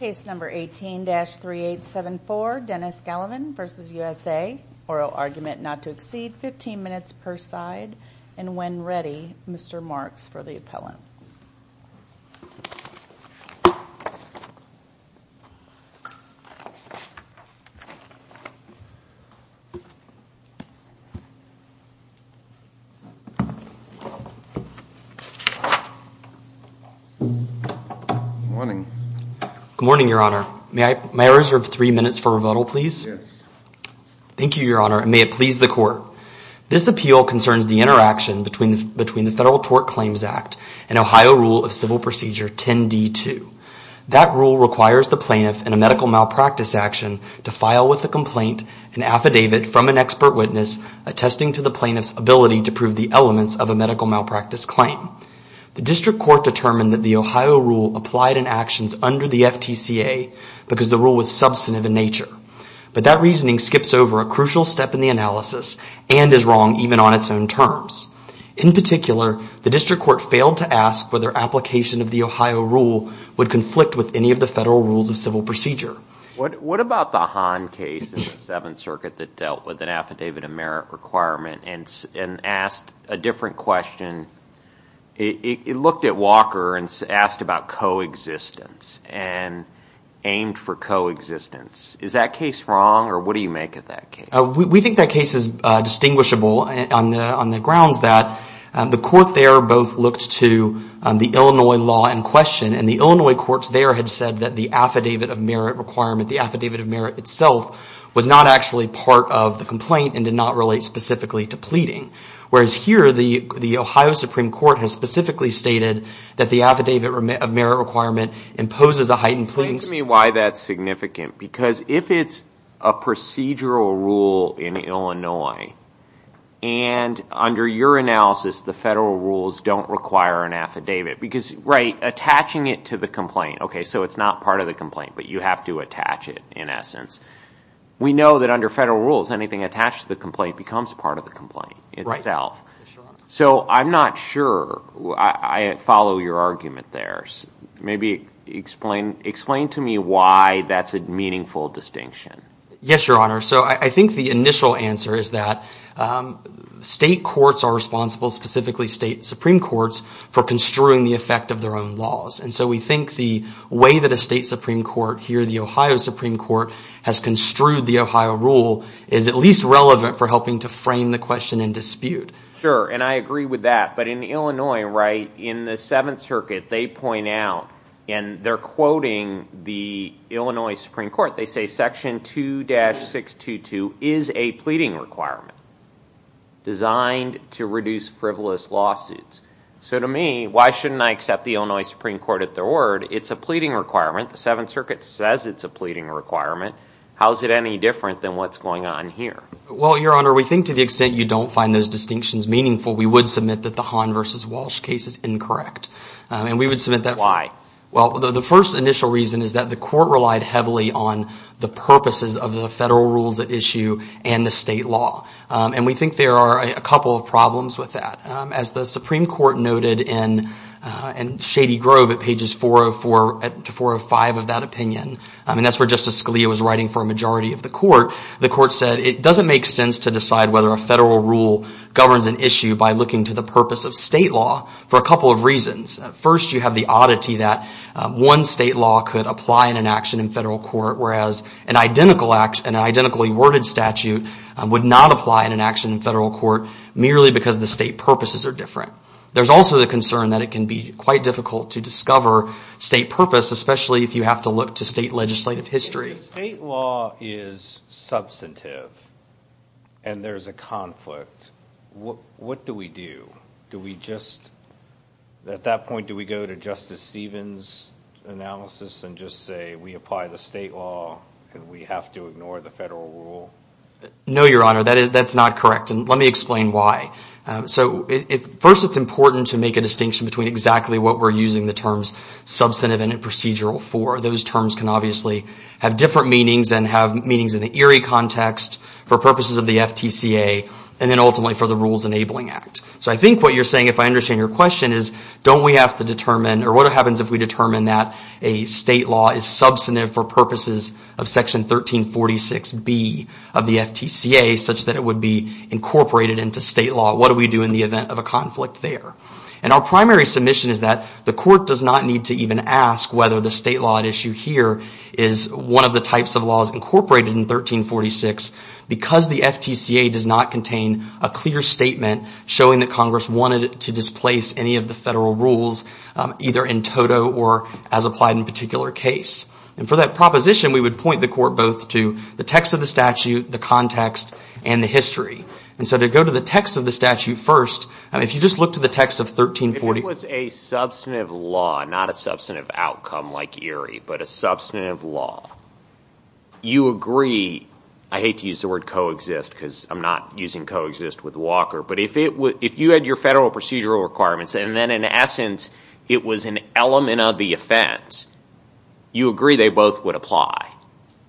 Case number 18-3874, Dennis Gallivan v. USA. Oral argument not to exceed 15 minutes per side. And when ready, Mr. Marks for the appellant. Good morning, your honor. May I reserve three minutes for rebuttal, please? Yes. Thank you, your honor, and may it please the court. This appeal concerns the interaction between the Federal Tort Claims Act and Ohio Rule of Civil Procedure 10-D-2. That rule requires the plaintiff in a medical malpractice action to file with a complaint an affidavit from an expert witness attesting to the plaintiff's ability to prove the elements of a medical malpractice claim. The district court determined that the Ohio rule applied in actions under the FTCA because the rule was substantive in nature. But that reasoning skips over a crucial step in the analysis and is wrong even on its own terms. In particular, the district court failed to ask whether application of the Ohio rule would conflict with any of the Federal Rules of Civil Procedure. What about the Hahn case in the Seventh Circuit that dealt with an affidavit of merit requirement and asked a different question? It looked at Walker and asked about coexistence and aimed for coexistence. Is that case wrong, or what do you make of that case? We think that case is distinguishable on the grounds that the court there both looked to the Illinois law in question, and the Illinois courts there had said that the affidavit of merit requirement, the affidavit of merit itself, was not actually part of the complaint and did not relate specifically to pleading. Whereas here, the Ohio Supreme Court has specifically stated that the affidavit of merit requirement imposes a heightened plea. Explain to me why that's significant. Because if it's a procedural rule in Illinois, and under your analysis, the Federal Rules don't require an affidavit. Attaching it to the complaint, so it's not part of the complaint, but you have to attach it in essence. We know that under Federal Rules, anything attached to the complaint becomes part of the complaint itself. I'm not sure. I follow your argument there. Maybe explain to me why that's a meaningful distinction. Yes, Your Honor. So I think the initial answer is that state courts are responsible, specifically state Supreme Courts, for construing the effect of their own laws. And so we think the way that a state Supreme Court here, the Ohio Supreme Court, has construed the Ohio rule is at least relevant for helping to frame the question in dispute. Sure, and I agree with that. But in Illinois, right, in the Seventh Circuit, they point out, and they're quoting the Illinois Supreme Court. They say Section 2-622 is a pleading requirement designed to reduce frivolous lawsuits. So to me, why shouldn't I accept the Illinois Supreme Court at their word? It's a pleading requirement. The Seventh Circuit says it's a pleading requirement. How is it any different than what's going on here? Well, Your Honor, we think to the extent you don't find those distinctions meaningful, we would submit that the Hahn v. Walsh case is incorrect. And we would submit that. Why? Well, the first initial reason is that the court relied heavily on the purposes of the federal rules at issue and the state law. And we think there are a couple of problems with that. As the Supreme Court noted in Shady Grove at pages 404 to 405 of that opinion, and that's where Justice Scalia was writing for a majority of the court, the court said it doesn't make sense to decide whether a federal rule governs an issue by looking to the purpose of state law for a couple of reasons. First, you have the oddity that one state law could apply in an action in federal court, whereas an identically worded statute would not apply in an action in federal court merely because the state purposes are different. There's also the concern that it can be quite difficult to discover state purpose, especially if you have to look to state legislative history. If the state law is substantive and there's a conflict, what do we do? Do we just, at that point, do we go to Justice Stevens' analysis and just say we apply the state law and we have to ignore the federal rule? No, Your Honor. That's not correct. And let me explain why. First, it's important to make a distinction between exactly what we're using the terms substantive and procedural for. Those terms can obviously have different meanings and have meanings in the ERI context for purposes of the FTCA and then ultimately for the Rules Enabling Act. So I think what you're saying, if I understand your question, is don't we have to determine or what happens if we determine that a state law is substantive for purposes of Section 1346B of the FTCA such that it would be incorporated into state law? What do we do in the event of a conflict there? And our primary submission is that the court does not need to even ask whether the state law at issue here is one of the types of laws incorporated in 1346 because the FTCA does not contain a clear statement showing that Congress wanted to displace any of the federal rules either in toto or as applied in a particular case. And for that proposition, we would point the court both to the text of the statute, the context, and the history. And so to go to the text of the statute first, if you just look to the text of 1346 if it was a substantive law, not a substantive outcome like ERI, but a substantive law, you agree, I hate to use the word coexist because I'm not using coexist with Walker, but if you had your federal procedural requirements and then in essence, it was an element of the offense, you agree they both would apply?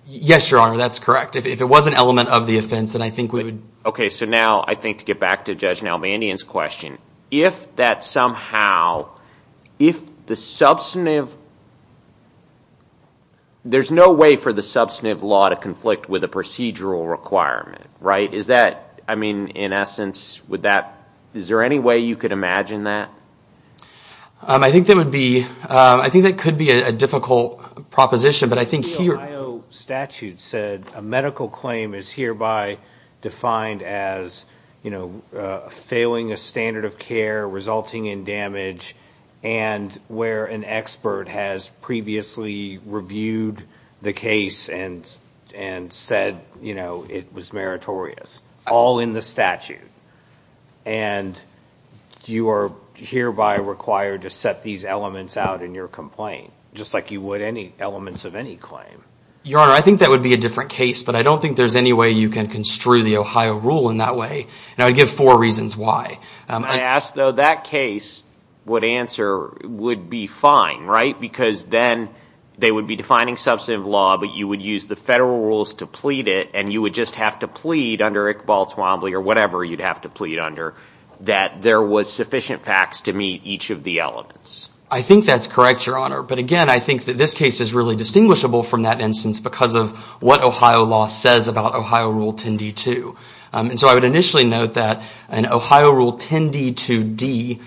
Yes, Your Honor, that's correct. If it was an element of the offense, then I think we would. Okay, so now I think to get back to Judge Nalbandian's question, if that somehow, if the substantive, there's no way for the substantive law to conflict with a procedural requirement, right? Is that, I mean, in essence, would that, is there any way you could imagine that? I think that would be, I think that could be a difficult proposition, but I think here. The Ohio statute said a medical claim is hereby defined as, you know, failing a standard of care, resulting in damage, and where an expert has previously reviewed the case and said, you know, it was meritorious, all in the statute. And you are hereby required to set these elements out in your complaint, just like you would any elements of any claim. Your Honor, I think that would be a different case, but I don't think there's any way you can construe the Ohio rule in that way. And I would give four reasons why. I ask, though, that case would answer, would be fine, right? Because then they would be defining substantive law, but you would use the federal rules to plead it, and you would just have to plead under Iqbal Twombly or whatever you'd have to plead under, that there was sufficient facts to meet each of the elements. I think that's correct, Your Honor. But again, I think that this case is really distinguishable from that instance because of what Ohio law says about Ohio Rule 10d-2. And so I would initially note that in Ohio Rule 10d-2d,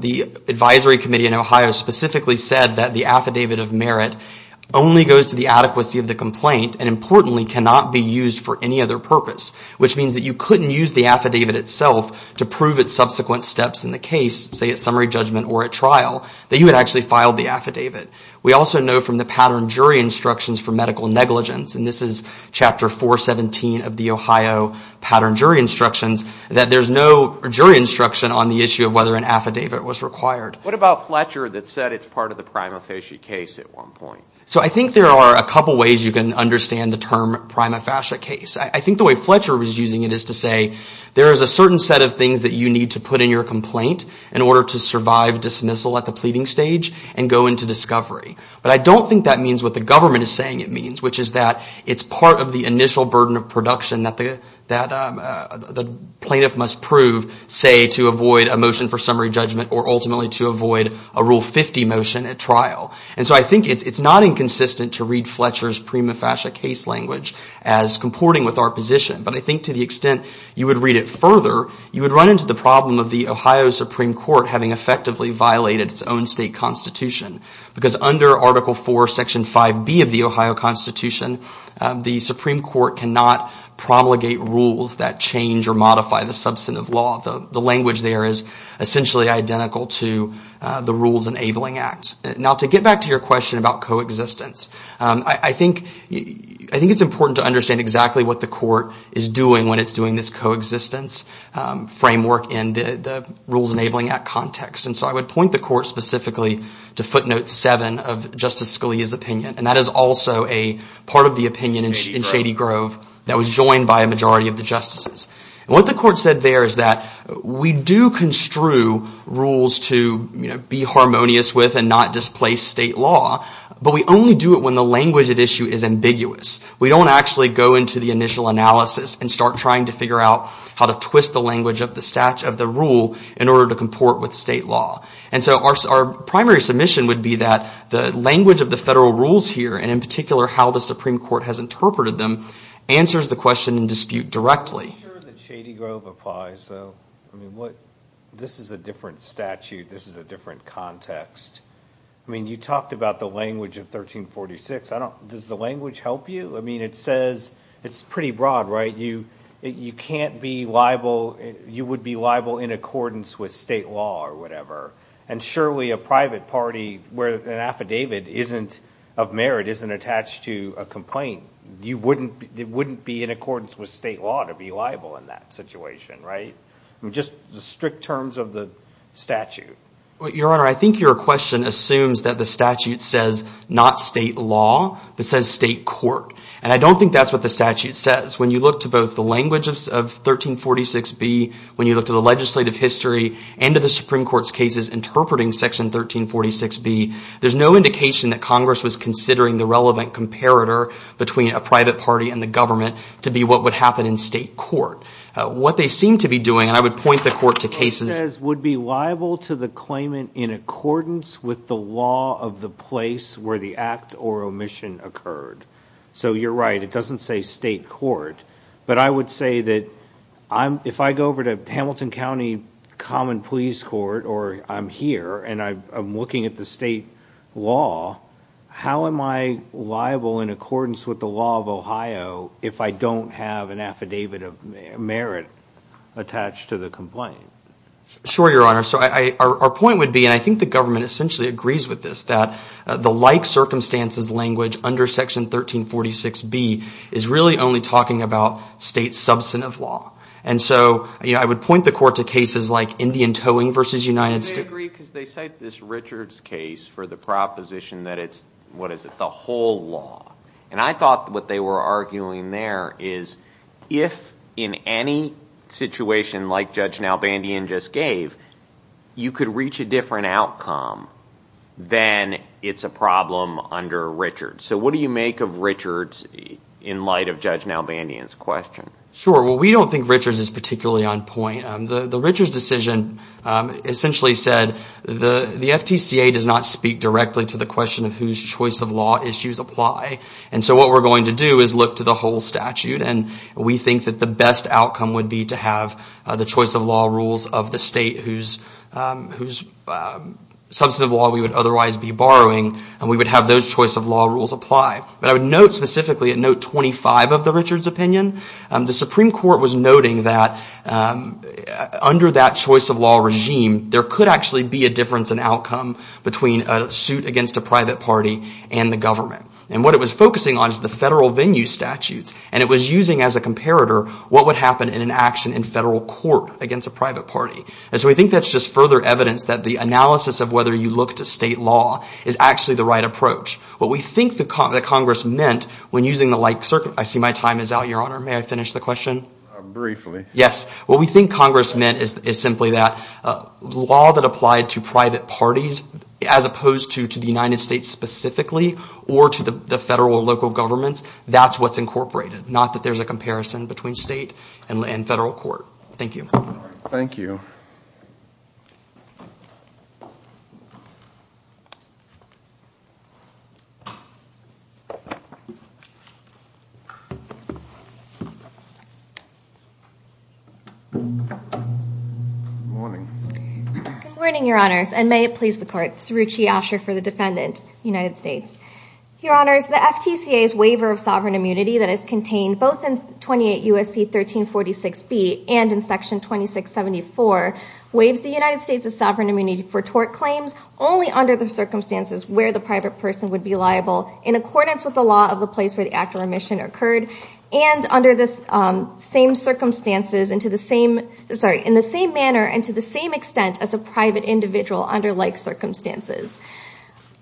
the advisory committee in Ohio specifically said that the affidavit of merit only goes to the adequacy of the complaint and, importantly, cannot be used for any other purpose, which means that you couldn't use the affidavit itself to prove its subsequent steps in the case, say, at summary judgment or at trial, that you had actually filed the affidavit. We also know from the pattern jury instructions for medical negligence, and this is Chapter 417 of the Ohio pattern jury instructions, that there's no jury instruction on the issue of whether an affidavit was required. What about Fletcher that said it's part of the prima facie case at one point? So I think there are a couple ways you can understand the term prima facie case. I think the way Fletcher was using it is to say there is a certain set of things that you need to put in your complaint, in order to survive dismissal at the pleading stage and go into discovery. But I don't think that means what the government is saying it means, which is that it's part of the initial burden of production that the plaintiff must prove, say, to avoid a motion for summary judgment or ultimately to avoid a Rule 50 motion at trial. And so I think it's not inconsistent to read Fletcher's prima facie case language as comporting with our position. However, you would run into the problem of the Ohio Supreme Court having effectively violated its own state constitution. Because under Article 4, Section 5B of the Ohio Constitution, the Supreme Court cannot promulgate rules that change or modify the substantive law. The language there is essentially identical to the Rules Enabling Act. Now, to get back to your question about coexistence, I think it's important to understand exactly what the court is doing when it's doing this coexistence framework in the Rules Enabling Act context. And so I would point the court specifically to footnote 7 of Justice Scalia's opinion. And that is also a part of the opinion in Shady Grove that was joined by a majority of the justices. And what the court said there is that we do construe rules to be harmonious with and not displace state law. But we only do it when the language at issue is ambiguous. We don't actually go into the initial analysis and start trying to figure out how to twist the language of the rule in order to comport with state law. And so our primary submission would be that the language of the federal rules here, and in particular how the Supreme Court has interpreted them, answers the question in dispute directly. I'm not sure that Shady Grove applies, though. I mean, this is a different statute. This is a different context. I mean, you talked about the language of 1346. Does the language help you? I mean, it says it's pretty broad, right? You can't be liable. You would be liable in accordance with state law or whatever. And surely a private party where an affidavit isn't of merit isn't attached to a complaint. It wouldn't be in accordance with state law to be liable in that situation, right? I mean, just the strict terms of the statute. Your Honor, I think your question assumes that the statute says not state law, but says state court. And I don't think that's what the statute says. When you look to both the language of 1346B, when you look to the legislative history and to the Supreme Court's cases interpreting Section 1346B, there's no indication that Congress was considering the relevant comparator between a private party and the government to be what would happen in state court. What they seem to be doing, and I would point the Court to cases that would be liable to the claimant in accordance with the law of the place where the act or omission occurred. So you're right. It doesn't say state court. But I would say that if I go over to Hamilton County Common Pleas Court or I'm here and I'm looking at the state law, how am I liable in accordance with the law of Ohio if I don't have an affidavit of merit attached to the complaint? Sure, Your Honor. So our point would be, and I think the government essentially agrees with this, that the like circumstances language under Section 1346B is really only talking about state substantive law. And so I would point the Court to cases like Indian Towing v. United States. They agree because they cite this Richards case for the proposition that it's, what is it, the whole law. And I thought what they were arguing there is if in any situation like Judge Nalbandian just gave, you could reach a different outcome, then it's a problem under Richards. So what do you make of Richards in light of Judge Nalbandian's question? Sure. Well, we don't think Richards is particularly on point. The Richards decision essentially said the FTCA does not speak directly to the question of whose choice of law issues apply. And so what we're going to do is look to the whole statute. And we think that the best outcome would be to have the choice of law rules of the state whose substantive law we would otherwise be borrowing. And we would have those choice of law rules apply. But I would note specifically at Note 25 of the Richards opinion, the Supreme Court was noting that under that choice of law regime, there could actually be a difference in outcome between a suit against a private party and the government. And what it was focusing on is the federal venue statutes. And it was using as a comparator what would happen in an action in federal court against a private party. And so we think that's just further evidence that the analysis of whether you look to state law is actually the right approach. What we think that Congress meant when using the like circuit, I see my time is out, Your Honor. May I finish the question? Briefly. Yes. What we think Congress meant is simply that law that applied to private parties as opposed to the United States specifically or to the federal or local governments, that's what's incorporated. Not that there's a comparison between state and federal court. Thank you. Thank you. Good morning. Good morning, Your Honors. And may it please the court. Saroochi Asher for the defendant, United States. Your Honors, the FTCA's waiver of sovereign immunity that is contained both in 28 U.S.C. 1346B and in Section 2674 waives the United States' sovereign immunity for tort claims only under the circumstances where the private person would be liable for tort. In accordance with the law of the place where the act of remission occurred and under the same circumstances in the same manner and to the same extent as a private individual under like circumstances.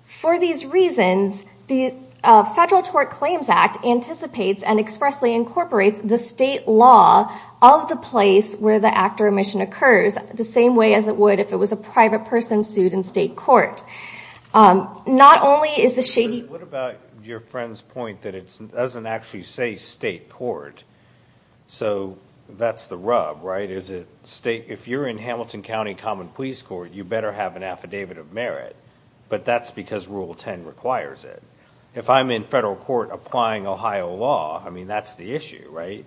For these reasons, the Federal Tort Claims Act anticipates and expressly incorporates the state law of the place where the act of remission occurs the same way as it would if it was a private person sued in state court. Not only is the shady... What about your friend's point that it doesn't actually say state court? So that's the rub, right? If you're in Hamilton County Common Police Court, you better have an affidavit of merit. But that's because Rule 10 requires it. If I'm in federal court applying Ohio law, I mean, that's the issue, right?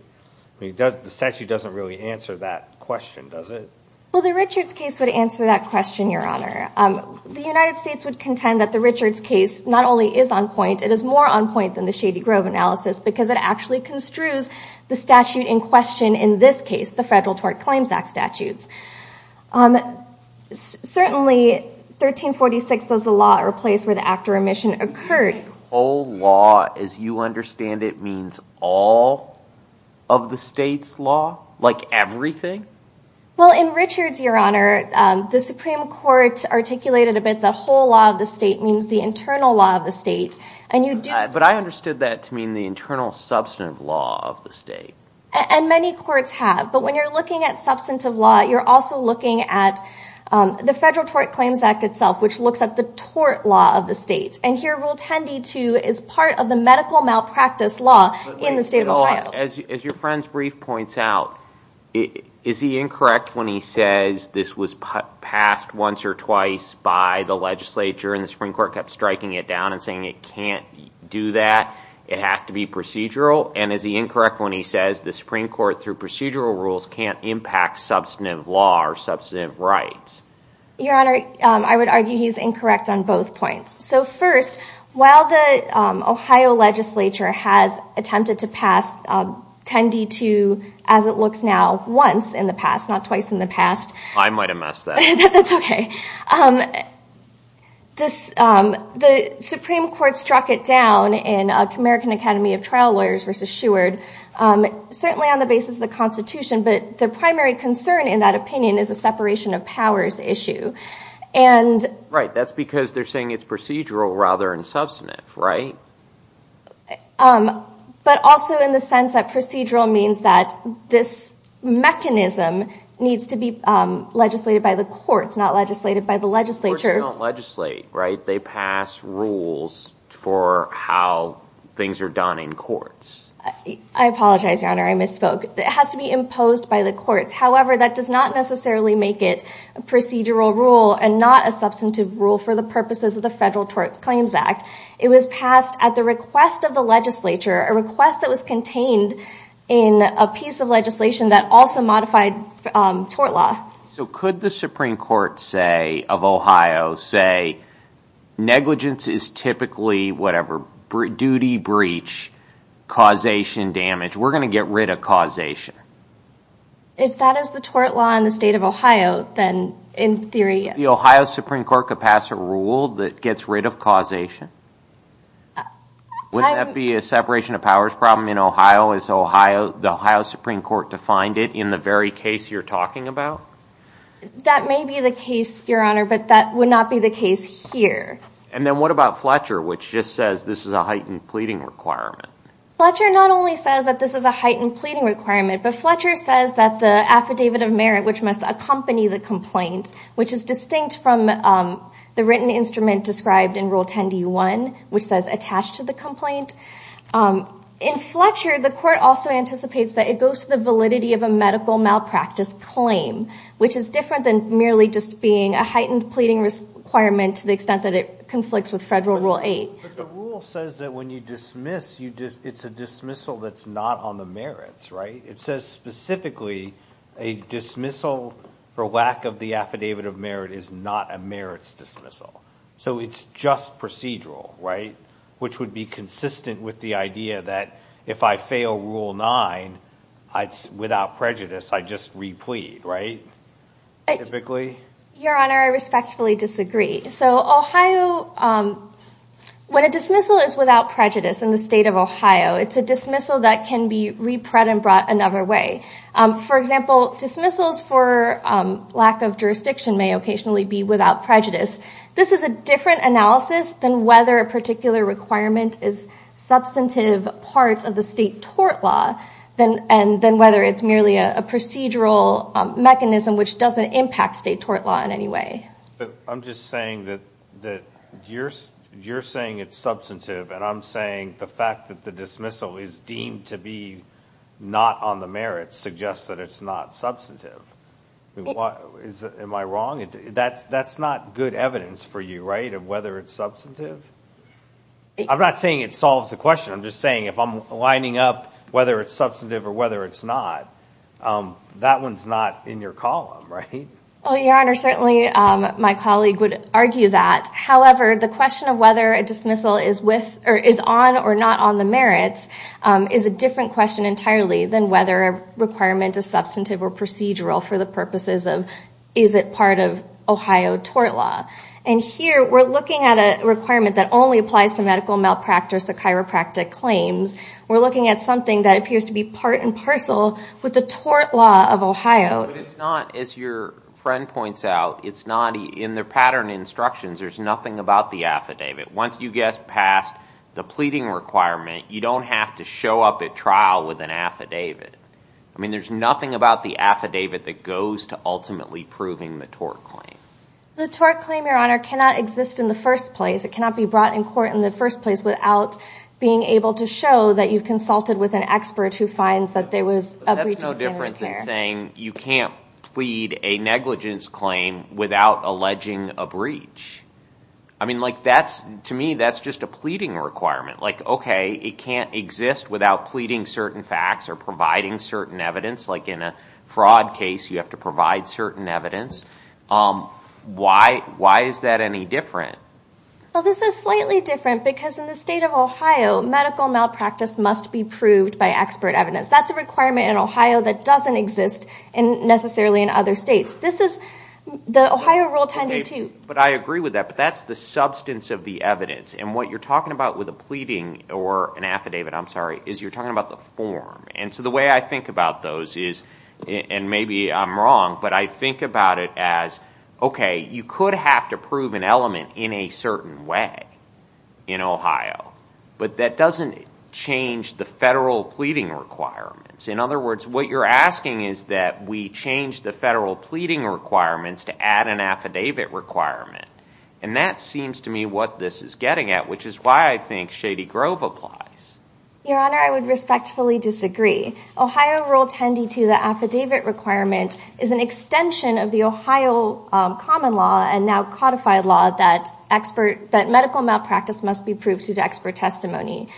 The statute doesn't really answer that question, does it? Well, the Richards case would answer that question, Your Honor. The United States would contend that the Richards case not only is on point, it is more on point than the Shady Grove analysis because it actually construes the statute in question in this case, the Federal Tort Claims Act statutes. Certainly, 1346 was the law or place where the act of remission occurred. The whole law, as you understand it, means all of the state's law? Like everything? Well, in Richards, Your Honor, the Supreme Court articulated a bit that whole law of the state means the internal law of the state. But I understood that to mean the internal substantive law of the state. And many courts have. But when you're looking at substantive law, you're also looking at the Federal Tort Claims Act itself, which looks at the tort law of the state. And here, Rule 10d2 is part of the medical malpractice law in the state of Ohio. As your friend's brief points out, is he incorrect when he says this was passed once or twice by the legislature and the Supreme Court kept striking it down and saying it can't do that, it has to be procedural? And is he incorrect when he says the Supreme Court, through procedural rules, can't impact substantive law or substantive rights? Your Honor, I would argue he's incorrect on both points. So first, while the Ohio legislature has attempted to pass 10d2, as it looks now, once in the past, not twice in the past. I might have missed that. That's okay. The Supreme Court struck it down in American Academy of Trial Lawyers v. Sheward, certainly on the basis of the Constitution, but their primary concern in that opinion is a separation of powers issue. Right, that's because they're saying it's procedural rather than substantive, right? But also in the sense that procedural means that this mechanism needs to be legislated by the courts, not legislated by the legislature. Courts don't legislate, right? They pass rules for how things are done in courts. I apologize, Your Honor, I misspoke. It has to be imposed by the courts. However, that does not necessarily make it a procedural rule and not a substantive rule for the purposes of the Federal Tort Claims Act. It was passed at the request of the legislature, a request that was contained in a piece of legislation that also modified tort law. So could the Supreme Court say, of Ohio, say negligence is typically whatever, duty breach, causation damage, we're going to get rid of causation? If that is the tort law in the state of Ohio, then in theory, yes. The Ohio Supreme Court could pass a rule that gets rid of causation? Wouldn't that be a separation of powers problem in Ohio as the Ohio Supreme Court defined it in the very case you're talking about? That may be the case, Your Honor, but that would not be the case here. And then what about Fletcher, which just says this is a heightened pleading requirement? Fletcher not only says that this is a heightened pleading requirement, but Fletcher says that the affidavit of merit, which must accompany the complaint, which is distinct from the written instrument described in Rule 10d1, which says attached to the complaint. In Fletcher, the court also anticipates that it goes to the validity of a medical malpractice claim, which is different than merely just being a heightened pleading requirement to the extent that it conflicts with Federal Rule 8. But the rule says that when you dismiss, it's a dismissal that's not on the merits, right? It says specifically a dismissal for lack of the affidavit of merit is not a merits dismissal. So it's just procedural, right? Which would be consistent with the idea that if I fail Rule 9, without prejudice, I just replead, right? Typically? Your Honor, I respectfully disagree. So Ohio, when a dismissal is without prejudice in the state of Ohio, it's a dismissal that can be repread and brought another way. For example, dismissals for lack of jurisdiction may occasionally be without prejudice. This is a different analysis than whether a particular requirement is substantive parts of the state tort law than whether it's merely a procedural mechanism which doesn't impact state tort law in any way. I'm just saying that you're saying it's substantive, and I'm saying the fact that the dismissal is deemed to be not on the merits suggests that it's not substantive. Am I wrong? That's not good evidence for you, right, of whether it's substantive? I'm not saying it solves the question. I'm just saying if I'm lining up whether it's substantive or whether it's not, that one's not in your column, right? Well, Your Honor, certainly my colleague would argue that. However, the question of whether a dismissal is on or not on the merits is a different question entirely than whether a requirement is substantive or procedural for the purposes of is it part of Ohio tort law. And here we're looking at a requirement that only applies to medical malpractice or chiropractic claims. We're looking at something that appears to be part and parcel with the tort law of Ohio. But it's not, as your friend points out, it's not in the pattern instructions. There's nothing about the affidavit. Once you get past the pleading requirement, you don't have to show up at trial with an affidavit. I mean, there's nothing about the affidavit that goes to ultimately proving the tort claim. The tort claim, Your Honor, cannot exist in the first place. It cannot be brought in court in the first place without being able to show that you've consulted with an expert who finds that there was a breach of standard of care. You're saying you can't plead a negligence claim without alleging a breach. I mean, to me, that's just a pleading requirement. Like, okay, it can't exist without pleading certain facts or providing certain evidence. Like in a fraud case, you have to provide certain evidence. Why is that any different? Well, this is slightly different because in the state of Ohio, medical malpractice must be proved by expert evidence. That's a requirement in Ohio that doesn't exist necessarily in other states. This is the Ohio Rule 10.2. But I agree with that, but that's the substance of the evidence. And what you're talking about with a pleading or an affidavit, I'm sorry, is you're talking about the form. And so the way I think about those is, and maybe I'm wrong, but I think about it as, okay, you could have to prove an element in a certain way in Ohio, but that doesn't change the federal pleading requirements. In other words, what you're asking is that we change the federal pleading requirements to add an affidavit requirement. And that seems to me what this is getting at, which is why I think Shady Grove applies. Your Honor, I would respectfully disagree. Ohio Rule 10.2, the affidavit requirement, is an extension of the Ohio common law and now codified law that medical malpractice must be proved through the expert testimony.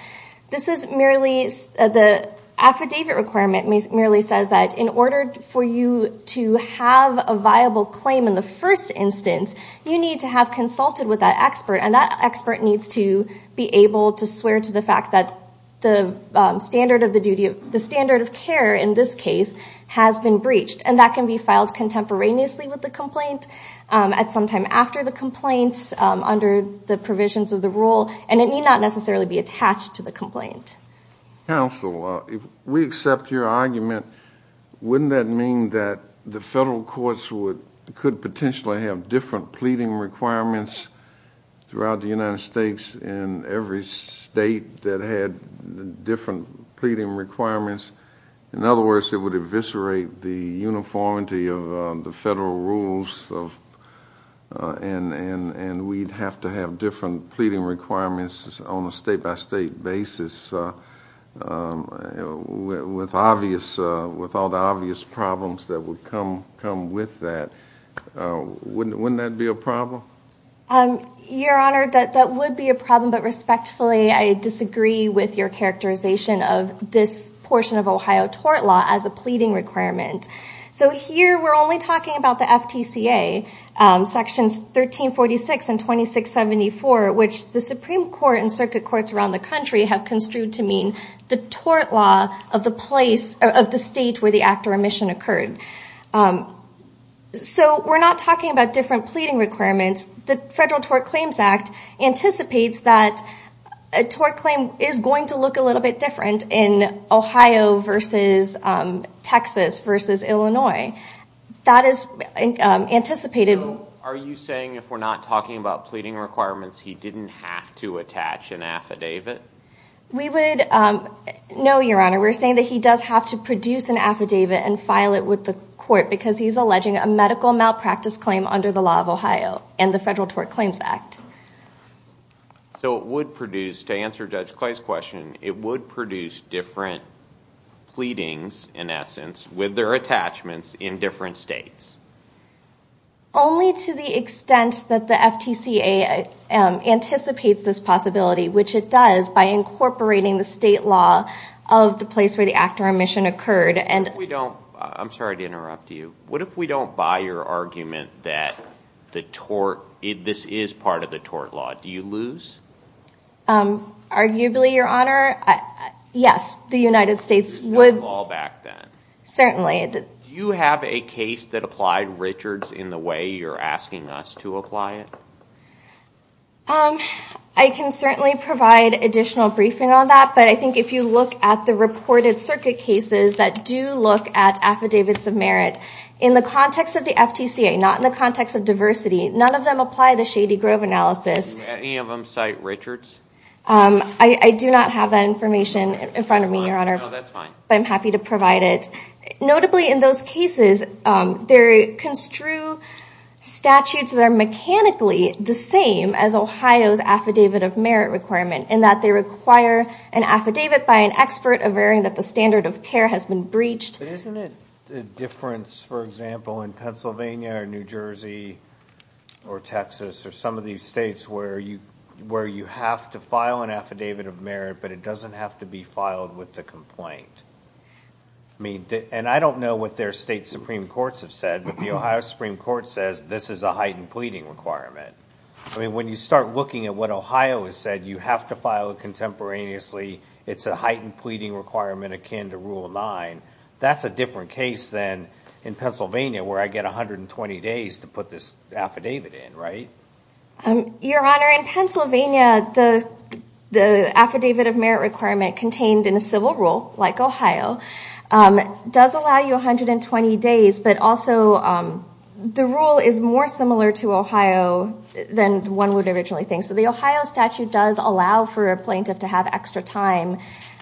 The affidavit requirement merely says that in order for you to have a viable claim in the first instance, you need to have consulted with that expert, and that expert needs to be able to swear to the fact that the standard of care in this case has been breached. And that can be filed contemporaneously with the complaint, at some time after the complaint, under the provisions of the rule, and it need not necessarily be attached to the complaint. Counsel, if we accept your argument, wouldn't that mean that the federal courts could potentially have different pleading requirements throughout the United States in every state that had different pleading requirements? In other words, it would eviscerate the uniformity of the federal rules and we'd have to have different pleading requirements on a state-by-state basis with all the obvious problems that would come with that. Wouldn't that be a problem? Your Honor, that would be a problem, but respectfully, I disagree with your characterization of this portion of Ohio tort law as a pleading requirement. So here we're only talking about the FTCA, Sections 1346 and 2674, which the Supreme Court and circuit courts around the country have construed to mean the tort law of the state where the act or omission occurred. So we're not talking about different pleading requirements. The Federal Tort Claims Act anticipates that a tort claim is going to look a little bit different in Ohio versus Texas versus Illinois. That is anticipated. Are you saying if we're not talking about pleading requirements, he didn't have to attach an affidavit? No, Your Honor. We're saying that he does have to produce an affidavit and file it with the court because he's alleging a medical malpractice claim under the law of Ohio and the Federal Tort Claims Act. So it would produce, to answer Judge Clay's question, it would produce different pleadings, in essence, with their attachments in different states? Only to the extent that the FTCA anticipates this possibility, which it does by incorporating the state law of the place where the act or omission occurred. I'm sorry to interrupt you. What if we don't buy your argument that this is part of the tort law? Do you lose? Arguably, Your Honor. Yes, the United States would. Certainly. Do you have a case that applied Richards in the way you're asking us to apply it? I can certainly provide additional briefing on that, but I think if you look at the reported circuit cases that do look at affidavits of merit, in the context of the FTCA, not in the context of diversity, none of them apply the Shady Grove analysis. Do any of them cite Richards? I do not have that information in front of me, Your Honor. No, that's fine. But I'm happy to provide it. Notably, in those cases, they construe statutes that are mechanically the same as Ohio's affidavit of merit requirement in that they require an affidavit by an expert averting that the standard of care has been breached. But isn't it a difference, for example, in Pennsylvania or New Jersey or Texas or some of these states where you have to file an affidavit of merit, but it doesn't have to be filed with the complaint? And I don't know what their state Supreme Courts have said, but the Ohio Supreme Court says this is a heightened pleading requirement. I mean, when you start looking at what Ohio has said, you have to file it contemporaneously. It's a heightened pleading requirement akin to Rule 9. That's a different case than in Pennsylvania where I get 120 days to put this affidavit in, right? Your Honor, in Pennsylvania, the affidavit of merit requirement contained in a civil rule, like Ohio, does allow you 120 days, but also the rule is more similar to Ohio than one would originally think. So the Ohio statute does allow for a plaintiff to have extra time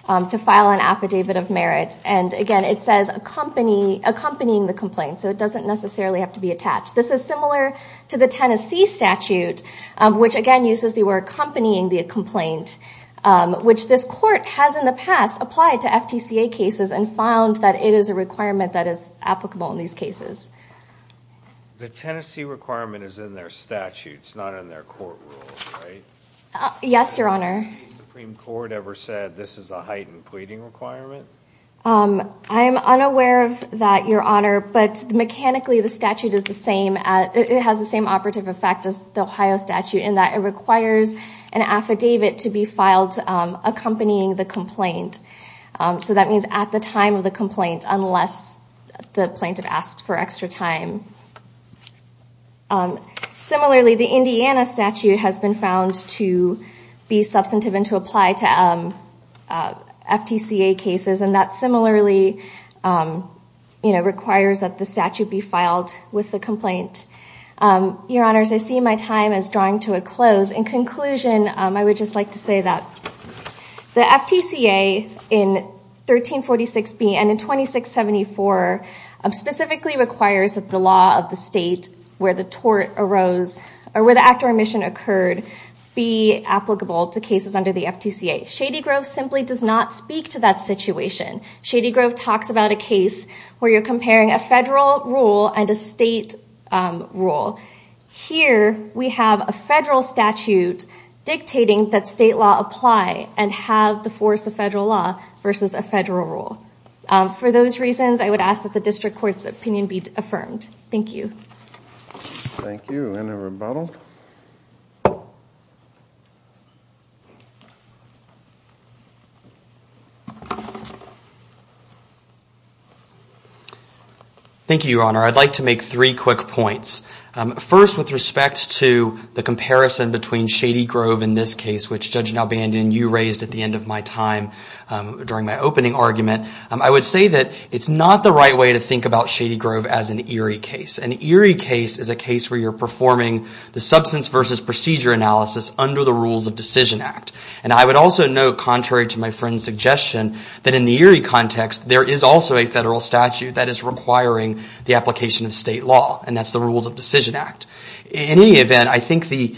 to file an affidavit of merit. And again, it says accompanying the complaint, so it doesn't necessarily have to be attached. This is similar to the Tennessee statute, which again uses the word accompanying the complaint, which this court has in the past applied to FTCA cases and found that it is a requirement that is applicable in these cases. The Tennessee requirement is in their statutes, not in their court rules, right? Yes, Your Honor. Has the state Supreme Court ever said this is a heightened pleading requirement? I'm unaware of that, Your Honor, but mechanically the statute is the same. It has the same operative effect as the Ohio statute in that it requires an affidavit to be filed accompanying the complaint. So that means at the time of the complaint, unless the plaintiff asks for extra time. Similarly, the Indiana statute has been found to be substantive and to apply to FTCA cases, and that similarly requires that the statute be filed with the complaint. Your Honors, I see my time as drawing to a close. In conclusion, I would just like to say that the FTCA in 1346B and in 2674 specifically requires that the law of the state where the tort arose, or where the act or omission occurred, be applicable to cases under the FTCA. Shady Grove simply does not speak to that situation. Shady Grove talks about a case where you're comparing a federal rule and a state rule. Here we have a federal statute dictating that state law apply and have the force of federal law versus a federal rule. For those reasons, I would ask that the district court's opinion be affirmed. Thank you. Thank you. Any rebuttal? Thank you. Thank you, Your Honor. I'd like to make three quick points. First, with respect to the comparison between Shady Grove and this case, which Judge Nalbandian, you raised at the end of my time during my opening argument, I would say that it's not the right way to think about Shady Grove as an eerie case. An eerie case is a case where you're performing the substance versus procedure analysis under the rules of Decision Act. And I would also note, contrary to my friend's suggestion, that in the eerie context, there is also a federal statute that is requiring the application of state law, and that's the rules of Decision Act. In any event, I think the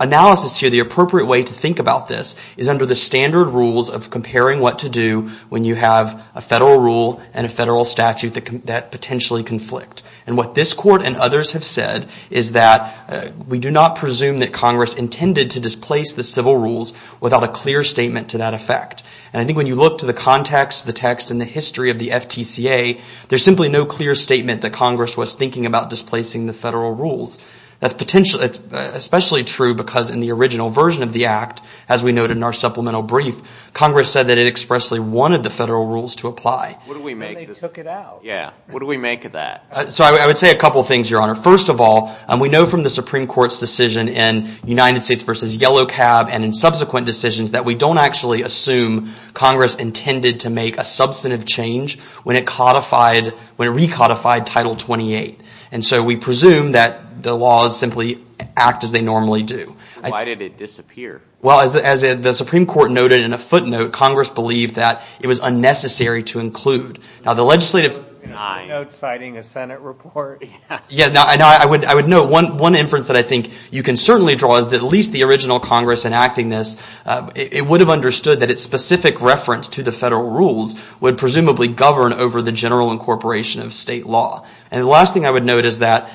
analysis here, the appropriate way to think about this, is under the standard rules of comparing what to do when you have a federal rule and a federal statute that potentially conflict. And what this Court and others have said is that we do not presume that Congress intended to displace the civil rules without a clear statement to that effect. And I think when you look to the context, the text, and the history of the FTCA, there's simply no clear statement that Congress was thinking about displacing the federal rules. That's especially true because in the original version of the Act, as we noted in our supplemental brief, Congress said that it expressly wanted the federal rules to apply. What do we make of that? So I would say a couple of things, Your Honor. First of all, we know from the Supreme Court's decision in United States v. Yellow Cab and in subsequent decisions that we don't actually assume Congress intended to make a substantive change when it recodified Title 28. And so we presume that the laws simply act as they normally do. Why did it disappear? Well, as the Supreme Court noted in a footnote, Congress believed that it was unnecessary to include. Now, the legislative... A footnote citing a Senate report. Yeah. I would note one inference that I think you can certainly draw is that at least the original Congress enacting this, it would have understood that its specific reference to the federal rules would presumably govern over the general incorporation of state law. And the last thing I would note is that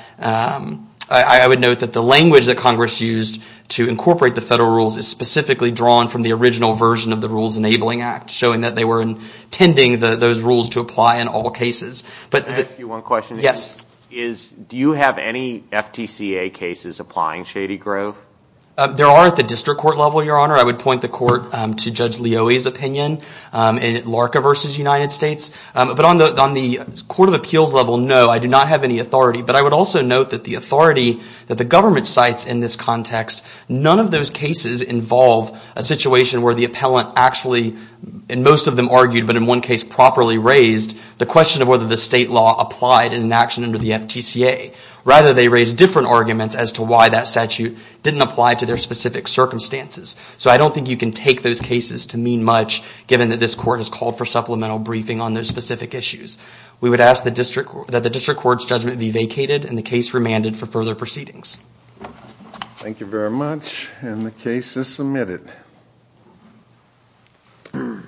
I would note that the language that Congress used to incorporate the federal rules is specifically drawn from the original version of the Rules Enabling Act, showing that they were intending those rules to apply in all cases. Can I ask you one question? Yes. Do you have any FTCA cases applying Shady Grove? There are at the district court level, Your Honor. I would point the court to Judge Leoie's opinion in Larka v. United States. But on the court of appeals level, no, I do not have any authority. But I would also note that the authority that the government cites in this context, none of those cases involve a situation where the appellant actually, and most of them argued but in one case properly raised, the question of whether the state law applied in an action under the FTCA. Rather, they raised different arguments as to why that statute didn't apply to their specific circumstances. So I don't think you can take those cases to mean much, given that this court has called for supplemental briefing on those specific issues. We would ask that the district court's judgment be vacated and the case remanded for further proceedings. Thank you very much, and the case is submitted. Let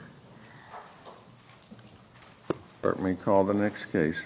me call the next case.